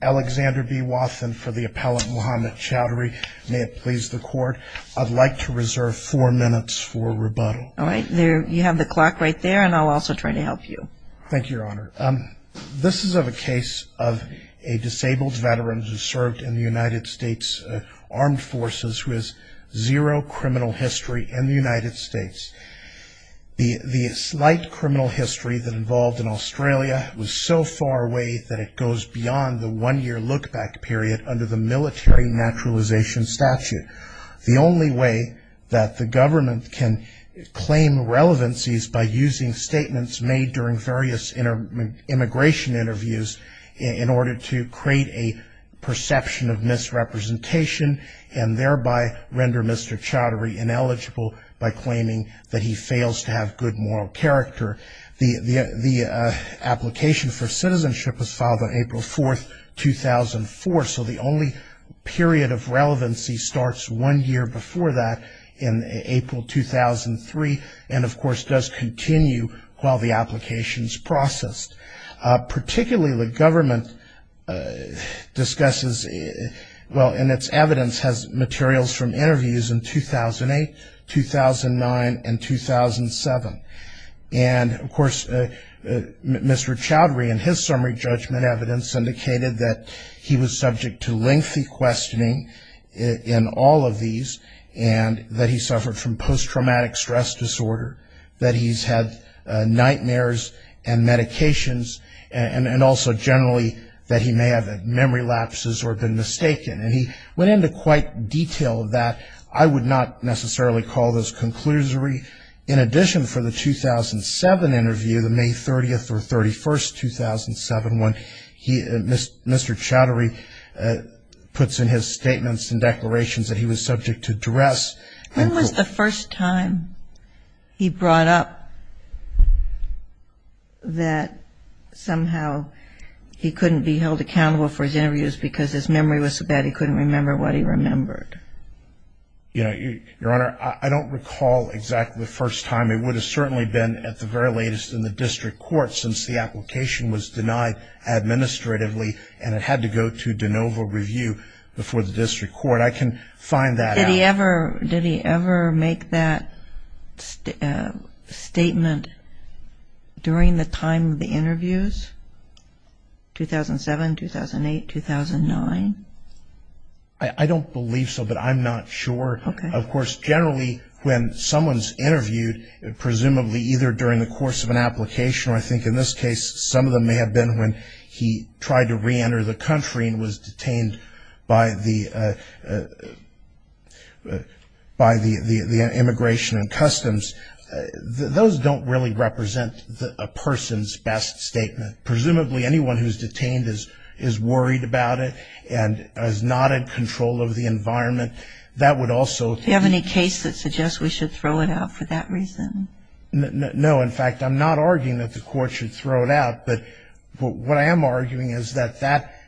Alexander B. Wathen for the appellant Mohamed Chaudhry may it please the court I'd like to reserve four minutes for rebuttal all right there you have the clock right there and I'll also try to help you thank you your honor um this is of a case of a disabled veteran who served in the United States Armed Forces who has zero criminal history in the United States the the slight criminal history that involved in Australia was so far away that it goes beyond the one-year look-back period under the military naturalization statute the only way that the government can claim relevancies by using statements made during various immigration interviews in order to create a perception of misrepresentation and thereby render mr. Chaudhry ineligible by claiming that he fails to have good moral character the application for citizenship was filed on April 4th 2004 so the only period of relevancy starts one year before that in April 2003 and of course does continue while the applications processed particularly the government discusses well in its evidence has materials from interviews in 2008 2009 and 2007 and of mr. Chaudhry and his summary judgment evidence indicated that he was subject to lengthy questioning in all of these and that he suffered from post-traumatic stress disorder that he's had nightmares and medications and and also generally that he may have memory lapses or been mistaken and he went into quite detail that I would not necessarily call this conclusory in addition for the 2007 interview the May 30th or 31st 2007 when he and mr. Chaudhry puts in his statements and declarations that he was subject to duress. When was the first time he brought up that somehow he couldn't be held accountable for his interviews because his memory was so bad he couldn't remember what he remembered? Yeah your honor I don't recall exactly the first time it would have certainly been at the very latest in the district court since the application was denied administratively and it had to go to de novo review before the district court I can find that out. Did he ever did he ever make that statement during the time of the interviews 2007 2008 2009? I don't believe so but I'm not sure of course generally when someone's interviewed it presumably either during the course of an application or I think in this case some of them may have been when he tried to re-enter the country and was detained by the by the the immigration and customs those don't really represent a person's best statement presumably anyone who's detained is is worried about it and is not in control of the case that suggests we should throw it out for that reason. No in fact I'm not arguing that the court should throw it out but what I am arguing is that that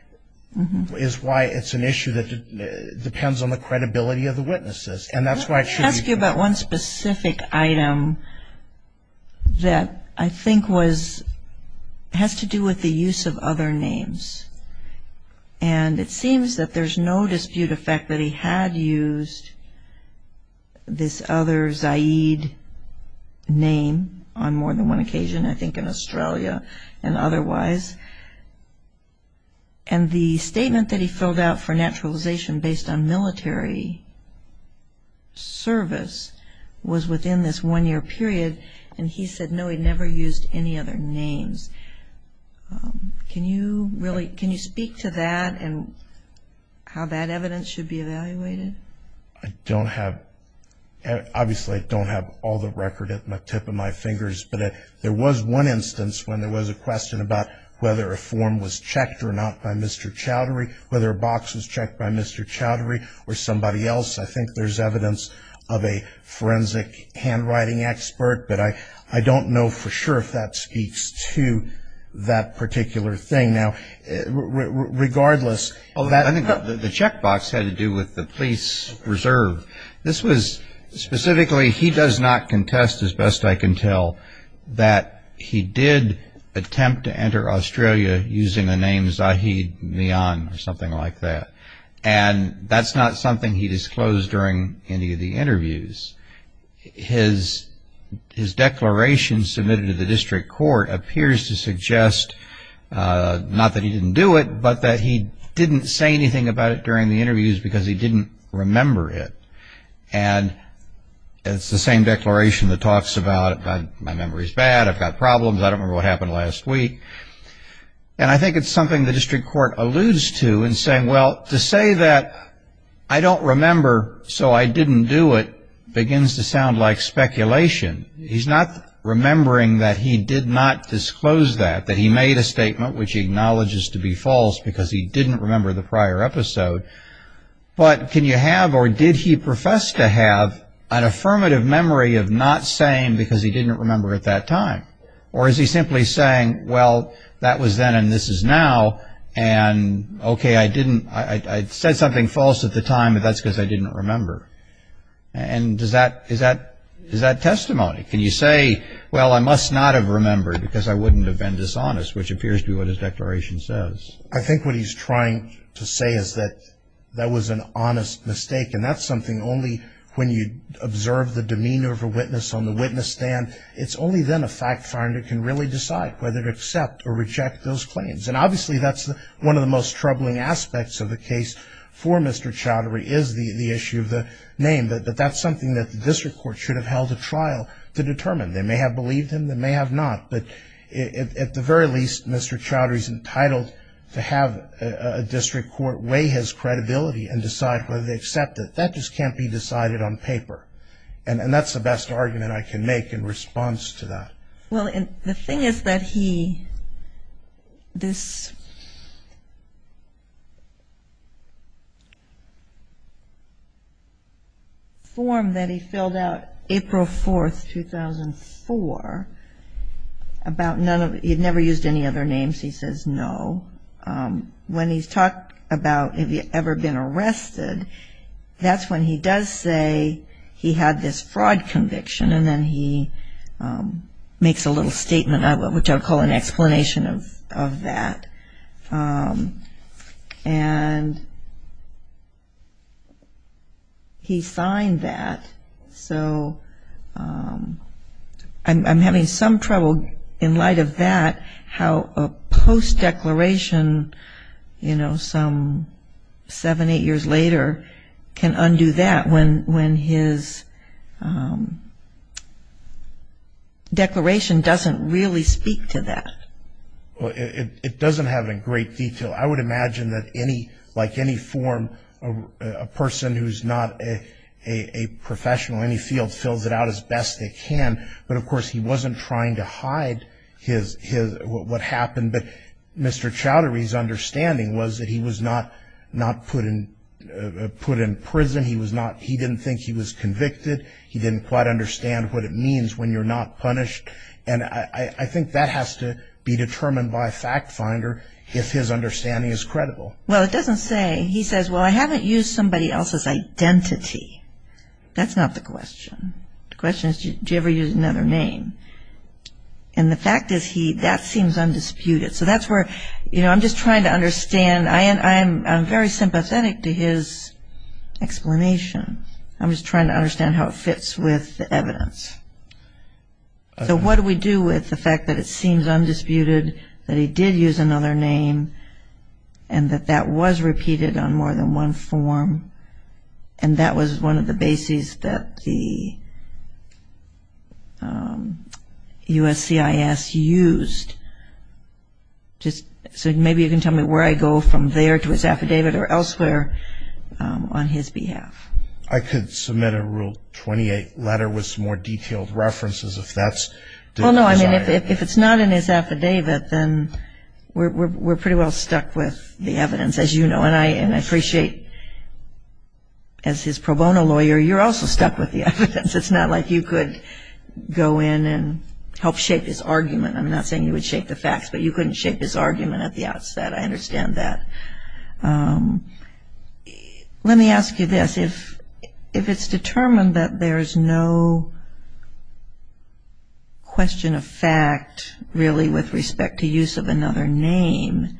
is why it's an issue that depends on the credibility of the witnesses and that's why I should ask you about one specific item that I think was has to do with the use of other names and it seems that there's no dispute effect that he had used this other Zaid name on more than one occasion I think in Australia and otherwise and the statement that he filled out for naturalization based on military service was within this one year period and he said no he never used any other names. Can you really can you speak to that and how that evidence should be evaluated? I don't have obviously I don't have all the record at my tip of my fingers but it there was one instance when there was a question about whether a form was checked or not by Mr. Chowdhury whether a box was checked by Mr. Chowdhury or somebody else I think there's evidence of a forensic handwriting expert but I I don't know for sure if that speaks to that particular thing now regardless. I think the checkbox had to do with the police reserve this was specifically he does not contest as best I can tell that he did attempt to enter Australia using the name Zahid Mian or something like that and that's not something he disclosed during any of the interviews his his declaration submitted to the district court appears to suggest not that he didn't do it but that he didn't say anything about it during the interviews because he didn't remember it and it's the same declaration that talks about my memory's bad I've got problems I don't remember what happened last week and I think it's something the district court alludes to and saying well to say that I don't remember so I didn't do it begins to sound like speculation he's not remembering that he did not disclose that that he made a statement which he acknowledges to be false because he didn't remember the prior episode but can you have or did he profess to have an affirmative memory of not saying because he didn't remember at that time or is he simply saying well that was then and this is now and okay I didn't I said something false at the time but that's because I didn't remember and does that is that is that testimony can you say well I must not have remembered because I wouldn't have been dishonest which appears to be what his declaration says I think what he's trying to say is that that was an honest mistake and that's something only when you observe the demeanor of a witness on the witness stand it's only then a fact finder can really decide whether to accept or reject those claims and obviously that's the one of the most troubling aspects of the case for Mr. Chowdhury is the issue of the name that that's something that the district court should have held a trial to determine they may have believed him they may have not but it at the very least Mr. Chowdhury's entitled to have a district court weigh his credibility and decide whether they accept it that just can't be decided on paper and that's the best argument I can make in response to that well in the thing is that he this form that he filled out April 4th 2004 about none of he'd never used any other names he says no when he's talked about have you ever been arrested that's when he does say he had this fraud conviction and then he makes a little statement I would call an explanation of that and he signed that so I'm having some trouble in light of that how a post-declaration you know some seven eight years later can undo that when when his declaration doesn't really speak to that well it doesn't have a great detail I would imagine that any like any form a person who's not a professional any field fills it out as best they can but of course he wasn't trying to hide his his what happened but Mr. Chowdhury's understanding was that he was not not put in put in prison he was not he didn't think he was convicted he didn't quite understand what it means when you're not punished and I think that has to be determined by a fact finder if his understanding is credible well it doesn't say he says well I haven't used somebody else's identity that's not the question the question is do you ever use another name and the fact is he that seems undisputed so that's where you know I'm just trying to understand I am I'm very sympathetic to his explanation I'm just trying to understand how it fits with evidence so what do we do with the fact that it seems undisputed that he did use another name and that that was repeated on more than one form and that was one of the bases that the USCIS used just so maybe you can tell me where I go from there to his affidavit or elsewhere on his behalf I could submit a rule 28 letter with more detailed references if that's well no I mean if it's not in his affidavit then we're pretty well stuck with the evidence as you know and I you're also stuck with the evidence it's not like you could go in and help shape this argument I'm not saying you would shape the facts but you couldn't shape this argument at the outset I understand that let me ask you this if if it's determined that there's no question of fact really with respect to use of another name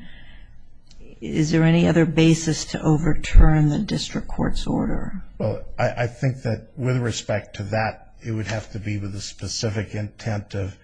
is there any other basis to overturn the district court's order well I think that with respect to that it would have to be with a specific intent of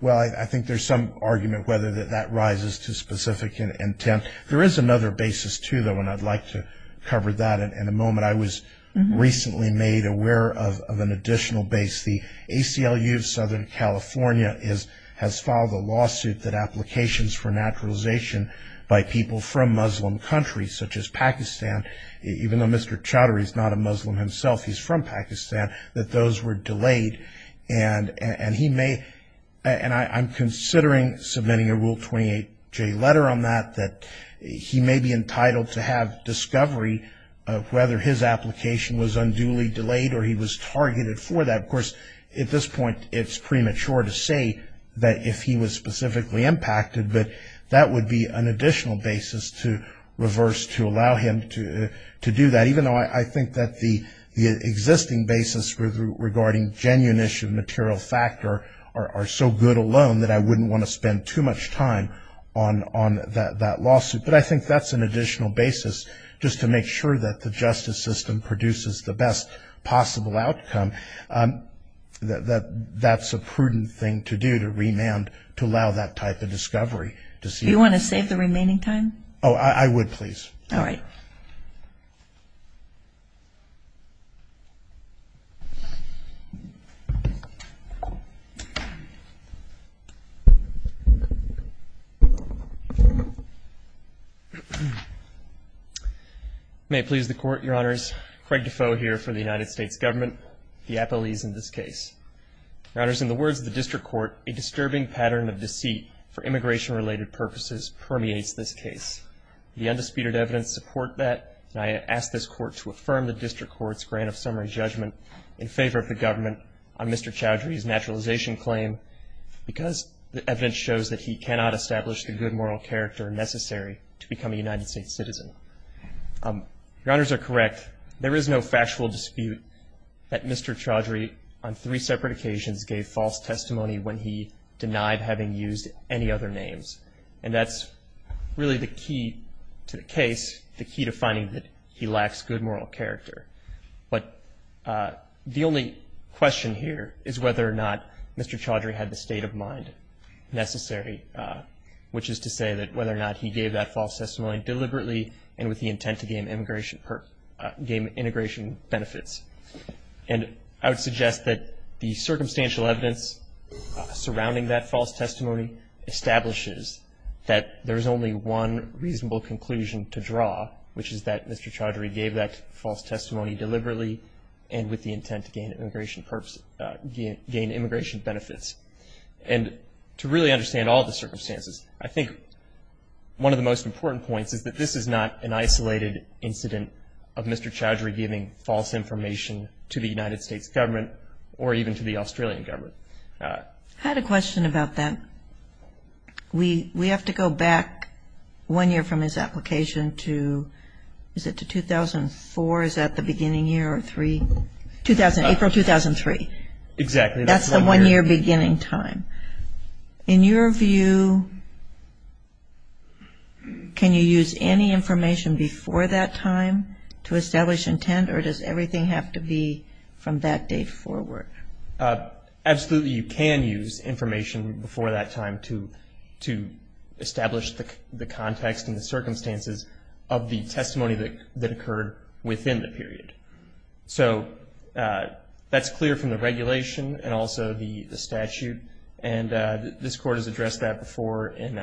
well I think there's some argument whether that that rises to specific intent there is another basis to that one I'd like to cover that in a moment I was recently made aware of an additional base the ACLU of Southern California is has filed a lawsuit that applications for naturalization by people from Muslim countries such as Pakistan even though mr. Chowdhury is not a Muslim himself he's from Pakistan that those were delayed and and he may and I'm considering submitting a rule 28 J letter on that that he may be entitled to have discovery of whether his application was unduly delayed or he was targeted for that of course at this point it's premature to say that if he was specifically impacted but that would be an additional basis to reverse to allow him to to do that even though I think that the the existing basis regarding genuine issue material factor are so good alone that I wouldn't want to spend too much time on on that lawsuit but I think that's an additional basis just to make sure that the justice system produces the best possible outcome that that's a prudent thing to do to remand to allow that type of discovery to see you want to save the remaining time oh I would please all right may please the court your honors Craig Defoe here for the United States government the Apple ease in this case runners in the words of the district court a disturbing pattern of deceit for immigration related purposes permeates this case the undisputed evidence support that and I asked this court to affirm the district courts grant of summary judgment in favor of the government on mr. Chowdhury's naturalization claim because the evidence shows that he cannot establish the good moral character necessary to become a United States citizen your honors are correct there is no factual dispute that mr. Chowdhury on three separate occasions gave false testimony when he denied having used any other names and that's really the key to the case the key to finding that he lacks good moral character but the only question here is whether or not mr. Chowdhury had the state of mind necessary which is to say that whether or not he gave that false testimony deliberately and with the intent to gain immigration per game integration benefits and I would suggest that the circumstantial evidence surrounding that false testimony establishes that there is only one reasonable conclusion to draw which is that mr. Chowdhury gave that false testimony deliberately and with the intent to gain immigration purpose gain immigration benefits and to really understand all the circumstances I think one of the most important points is that this is not an isolated incident of mr. Chowdhury giving false information to the United States government or even to the Australian government I had a question about that we we have to go back one year from his application to is it to 2004 is that the beginning year or three two thousand April 2003 exactly that's the one year beginning time in your view can you use any information before that time to establish intent or does everything have to be from that date forward absolutely you can use information before that time to to establish the context and the circumstances of the testimony that that occurred within the period so that's clear from the regulation and also the the statute and this court has addressed that before and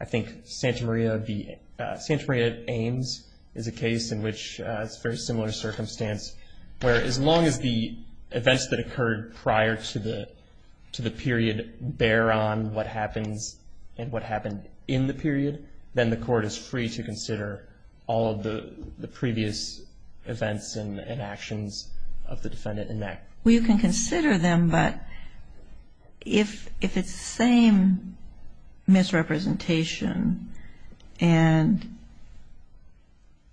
I think Santa Maria the Santa Maria Ames is a case in which it's very similar circumstance where as long as the events that occurred prior to the to the period bear on what happens and what happened in the period then the court is free to consider all of the previous events and actions of the defendant in that way you can consider them but if if it's the same misrepresentation and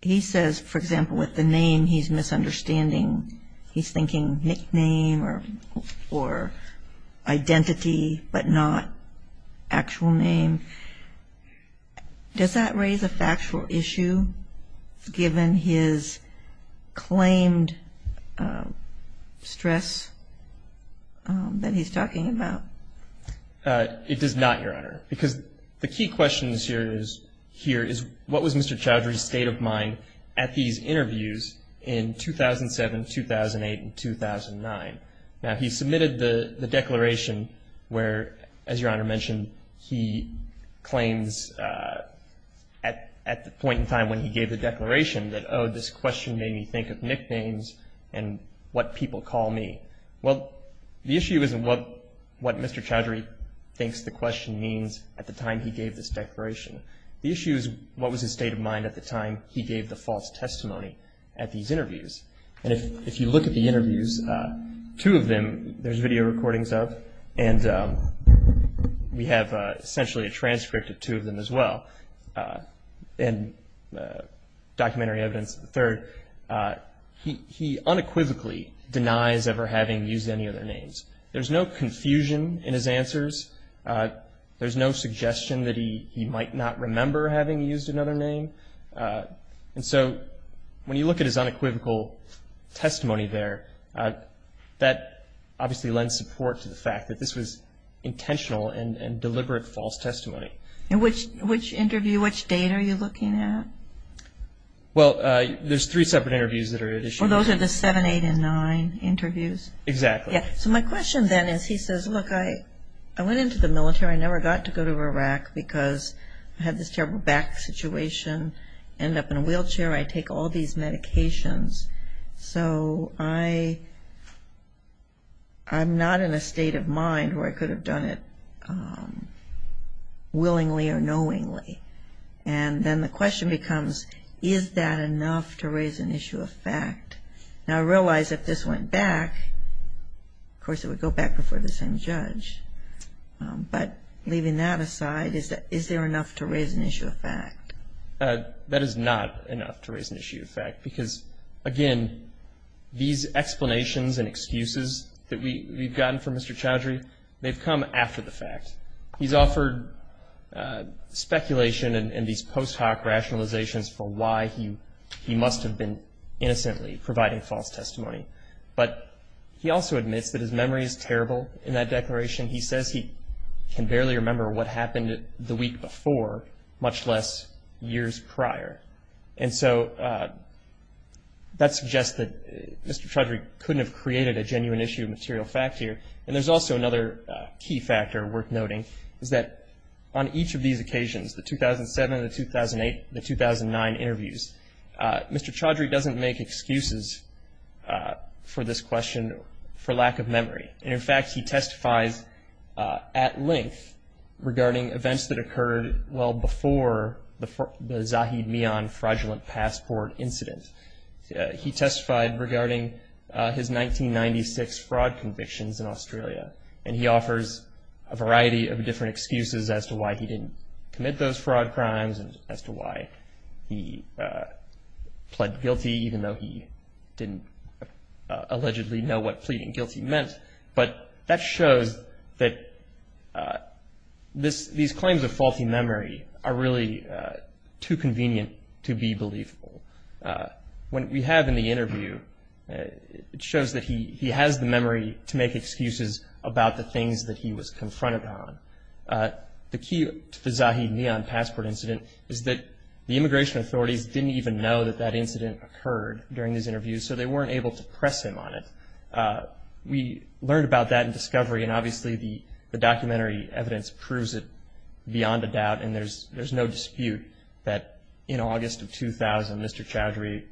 he says for example with the name he's misunderstanding he's thinking nickname or or identity but not actual name does that raise a factual issue given his claimed stress that he's talking about it does not your honor because the key questions here is here is what was mr. Chowdhury state of mind at these interviews in 2007 2008 and 2009 now he submitted the the declaration where as your honor mentioned he claims at at the point in time when he gave the nicknames and what people call me well the issue isn't what what mr. Chowdhury thinks the question means at the time he gave this declaration the issue is what was his state of mind at the time he gave the false testimony at these interviews and if if you look at the interviews two of them there's video recordings of and we have essentially a transcript of two of them as well and documentary evidence third he unequivocally denies ever having used any other names there's no confusion in his answers there's no suggestion that he might not remember having used another name and so when you look at his unequivocal testimony there that obviously lends support to the fact that this was intentional and deliberate false testimony in which which interview date are you looking at well there's three separate interviews that are additional those are the seven eight and nine interviews exactly yeah so my question then is he says look I I went into the military I never got to go to Iraq because I had this terrible back situation end up in a wheelchair I take all these medications so I I'm not in a state of mind where I could have done it willingly or knowingly and then the question becomes is that enough to raise an issue of fact now I realize if this went back of course it would go back before the same judge but leaving that aside is that is there enough to raise an issue of fact that is not enough to raise an issue of fact because again these explanations and excuses that we've gotten from mr. Chowdhury they've come after the fact he's offered speculation and these post hoc rationalizations for why he he must have been innocently providing false testimony but he also admits that his memory is terrible in that declaration he says he can barely remember what happened the week before much less years prior and so that suggests that mr. Chowdhury couldn't have created a key factor worth noting is that on each of these occasions the 2007 the 2008 the 2009 interviews mr. Chowdhury doesn't make excuses for this question for lack of memory and in fact he testifies at length regarding events that occurred well before the Zahid Mian fraudulent passport incident he testified regarding his 1996 fraud convictions in Australia and he offers a variety of different excuses as to why he didn't commit those fraud crimes and as to why he pled guilty even though he didn't allegedly know what pleading guilty meant but that shows that this these claims of faulty memory are really too it shows that he he has the memory to make excuses about the things that he was confronted on the key to the Zahid Mian passport incident is that the immigration authorities didn't even know that that incident occurred during these interviews so they weren't able to press him on it we learned about that in discovery and obviously the the documentary evidence proves it beyond a doubt and there's there's no dispute that in August of 2000 mr. Chowdhury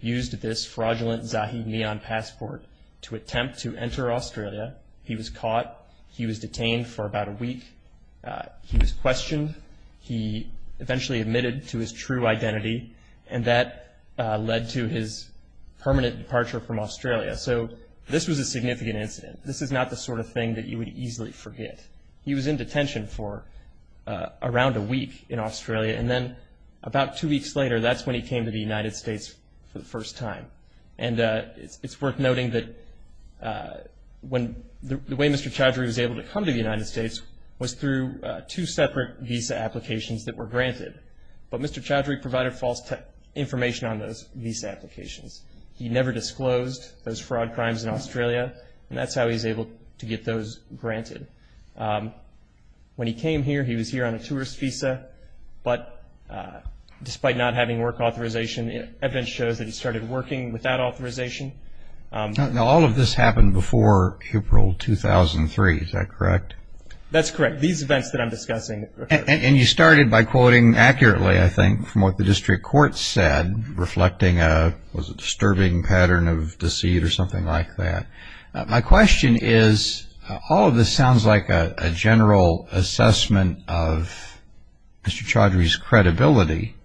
used this fraudulent Zahid Mian passport to attempt to enter Australia he was caught he was detained for about a week he was questioned he eventually admitted to his true identity and that led to his permanent departure from Australia so this was a significant incident this is not the sort of thing that you would easily forget he was in detention for around a week in Australia and then about two weeks later that's when he came to the United States for the first time and it's worth noting that when the way mr. Chowdhury was able to come to the United States was through two separate visa applications that were granted but mr. Chowdhury provided false information on those visa applications he never disclosed those fraud crimes in Australia and that's how he's able to get those granted when he came here he was here on a tourist visa but despite not having work authorization evidence shows that he started working without authorization now all of this happened before April 2003 is that correct that's correct these events that I'm discussing and you started by quoting accurately I think from what the district court said reflecting a was a disturbing pattern of all of this sounds like a general assessment of Mr. Chowdhury's credibility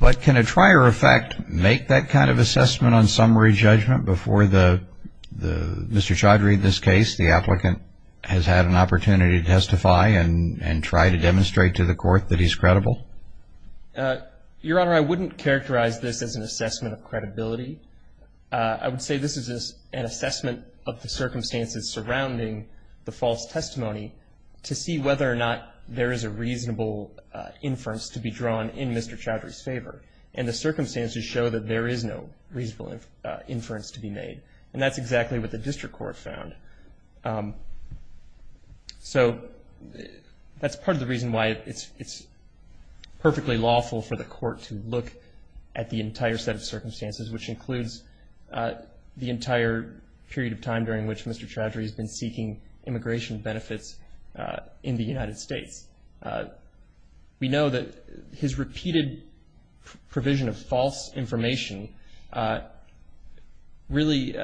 but can a trier effect make that kind of assessment on summary judgment before the the mr. Chowdhury this case the applicant has had an opportunity to testify and and try to demonstrate to the court that he's credible your honor I wouldn't characterize this as an assessment of the circumstances surrounding the false testimony to see whether or not there is a reasonable inference to be drawn in mr. Chowdhury's favor and the circumstances show that there is no reasonable inference to be made and that's exactly what the district court found so that's part of the reason why it's it's perfectly lawful for the court to look at the entire set of which Mr. Chowdhury has been seeking immigration benefits in the United States we know that his repeated provision of false information really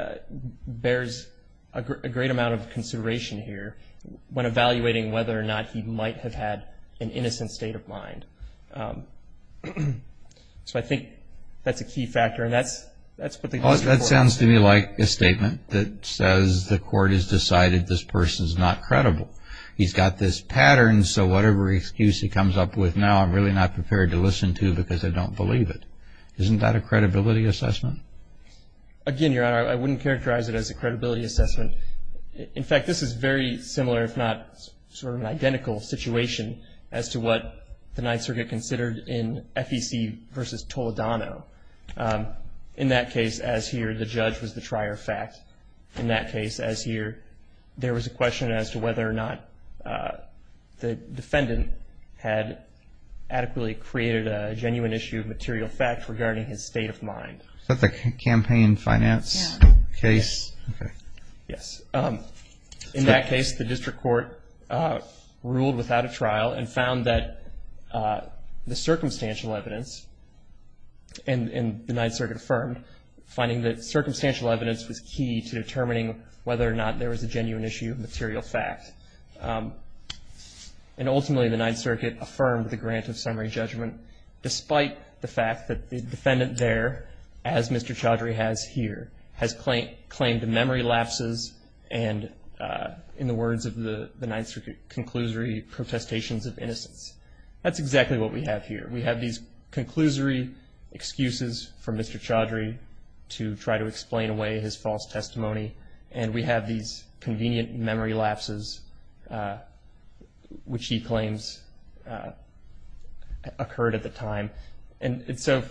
bears a great amount of consideration here when evaluating whether or not he might have had an innocent state of mind so I think that's a key factor and that sounds to me like a statement that says the court has decided this person's not credible he's got this pattern so whatever excuse he comes up with now I'm really not prepared to listen to because I don't believe it isn't that a credibility assessment again your honor I wouldn't characterize it as a credibility assessment in fact this is very similar if not sort of an identical situation as to what the Ninth Circuit considered in FEC versus Toledano in that case as here the judge was the trier fact in that case as here there was a question as to whether or not the defendant had adequately created a genuine issue of material fact regarding his state of mind but the campaign finance case yes in that case the district court ruled without a trial and found that the circumstantial evidence and in the Ninth Circuit affirmed finding that circumstantial evidence was key to determining whether or not there was a genuine issue of material fact and ultimately the Ninth Circuit affirmed the grant of summary judgment despite the fact that the defendant there as Mr. Chaudhry has here has claimed claimed memory lapses and in the words of the the Ninth Circuit conclusory protestations of innocence that's exactly what we have here we have these conclusory excuses for Mr. Chaudhry to try to explain away his false testimony and we have these convenient memory lapses which he claims occurred at the time and so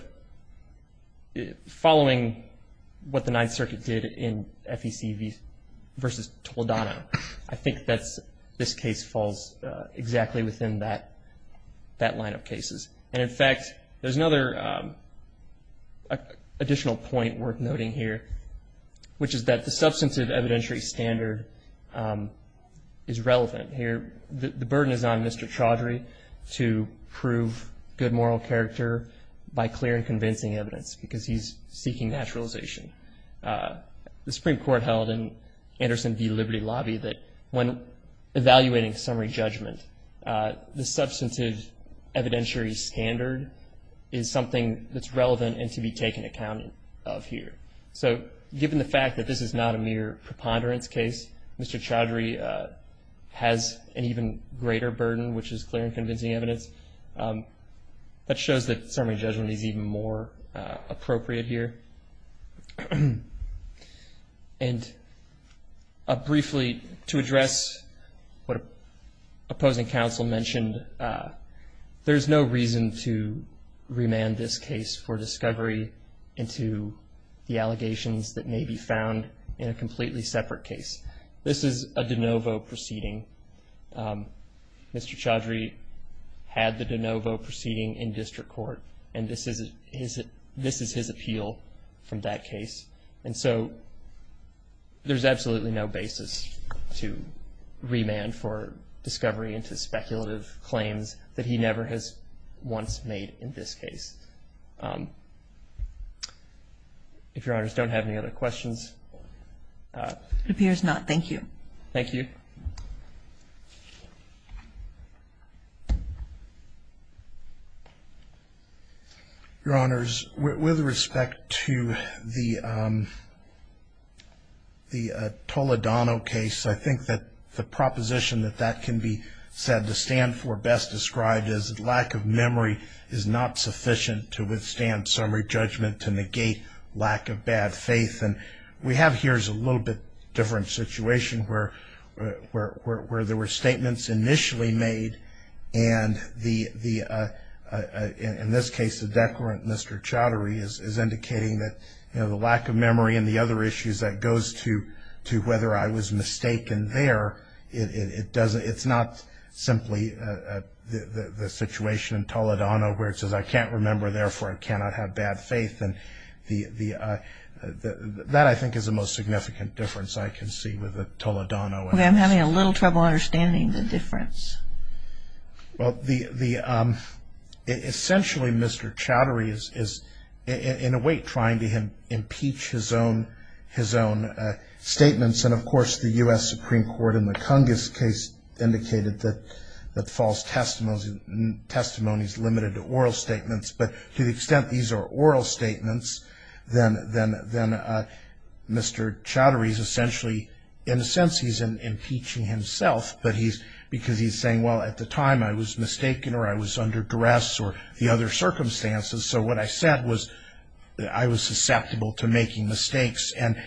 following what the Ninth Circuit did in FEC versus Toledano I think that's this case falls exactly within that that line of cases and in fact there's another additional point worth noting here which is that the substantive evidentiary standard is relevant here the burden is on Mr. Chaudhry to prove good moral character by clear and convincing evidence because he's seeking naturalization the Supreme Court held in Anderson v. Liberty Lobby that when evaluating summary judgment the substantive evidentiary standard is something that's relevant and to be taken account of here so given the fact that this is not a mere preponderance case Mr. Chaudhry has an even greater burden which is clear and convincing evidence that shows that summary judgment is even more appropriate here and briefly to address what opposing counsel mentioned there's no reason to into the allegations that may be found in a completely separate case this is a de novo proceeding Mr. Chaudhry had the de novo proceeding in district court and this is it is it this is his appeal from that case and so there's absolutely no basis to remand for discovery into speculative claims that he never has once made in this case if your honors don't have any other questions it appears not thank you thank you your honors with respect to the the Toledano case I think that the proposition that that can be said to stand for best described as lack of memory is not sufficient to withstand summary judgment to negate lack of bad faith and we have here's a little bit different situation where where there were statements initially made and the the in this case the declarant Mr. Chaudhry is indicating that the lack of memory and the other issues that goes to to whether I was mistaken there it doesn't it's not simply the situation in Toledano where it says I can't remember therefore I cannot have bad faith and the the that I think is the most significant difference I can see with the Toledano I'm having a little trouble understanding the difference well the the essentially Mr. Chaudhry is is in a way trying to him impeach his own his own statements and of course the US Supreme Court in the Congress case indicated that that false testimonies and testimonies limited to oral statements but to the extent these are oral statements then then then Mr. Chaudhry is essentially in a sense he's impeaching himself but he's because he's saying well at the time I was mistaken or I was under duress or the other circumstances so what I said was I was susceptible to making mistakes and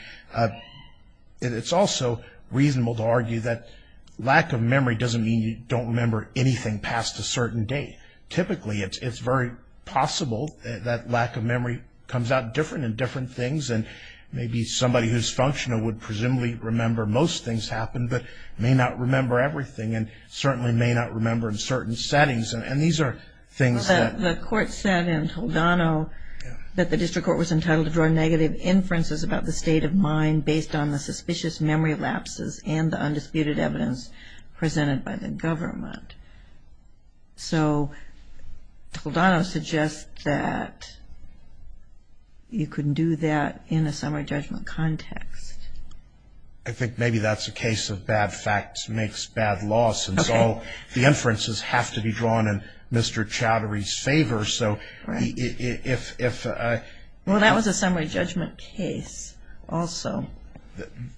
it's also reasonable to argue that lack of memory doesn't mean you don't remember anything past a certain day typically it's very possible that lack of memory comes out different in different things and maybe somebody who's functional would presumably remember most things happen but may not remember everything and certainly may not remember in certain settings and these are things that the court said in Toledano that the district court was entitled to draw about the state of mind based on the suspicious memory lapses and the undisputed evidence presented by the government so Toledano suggests that you couldn't do that in a summary judgment context. I think maybe that's a case of bad facts makes bad laws and so the inferences have to be drawn in Mr. Chaudhry. Well that was a summary judgment case also.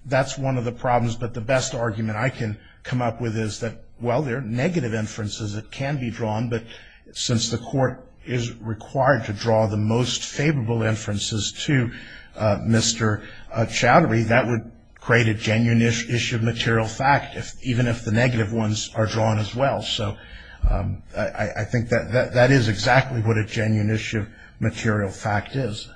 That's one of the problems but the best argument I can come up with is that well there are negative inferences that can be drawn but since the court is required to draw the most favorable inferences to Mr. Chaudhry that would create a genuine issue of material fact if even if the negative ones are drawn as well so I think that is exactly what a genuine issue of material fact is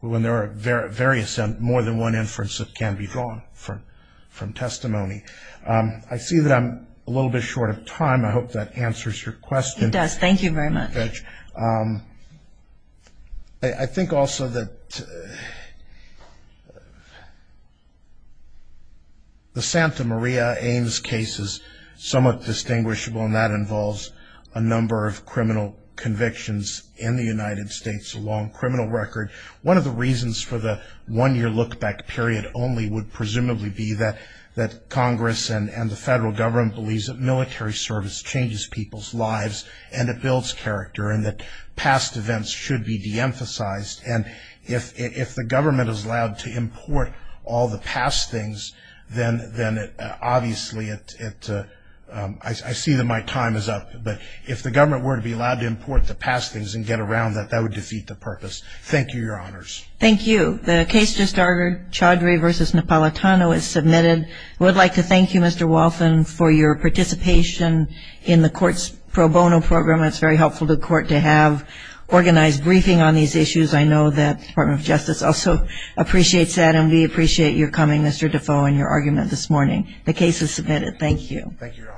when there are various and more than one inference that can be drawn from from testimony. I see that I'm a little bit short of time I hope that answers your question. It does, thank you very much. I think also that the Santa Maria Ames case is somewhat distinguishable and that involves a number of criminal convictions in the United States long criminal record one of the reasons for the one-year look back period only would presumably be that that Congress and and the federal government believes that military service changes people's lives and it builds character and that past events should be de-emphasized and if if the I see that my time is up but if the government were to be allowed to import the past things and get around that that would defeat the purpose. Thank you, your honors. Thank you. The case just ordered Chaudhry versus Napolitano is submitted. I would like to thank you Mr. Waltham for your participation in the court's pro bono program. It's very helpful to court to have organized briefing on these issues. I know that Department of Justice also appreciates that and we appreciate your coming Mr. Defoe and your argument this morning. The case is submitted. Thank you. Thank you, your honors.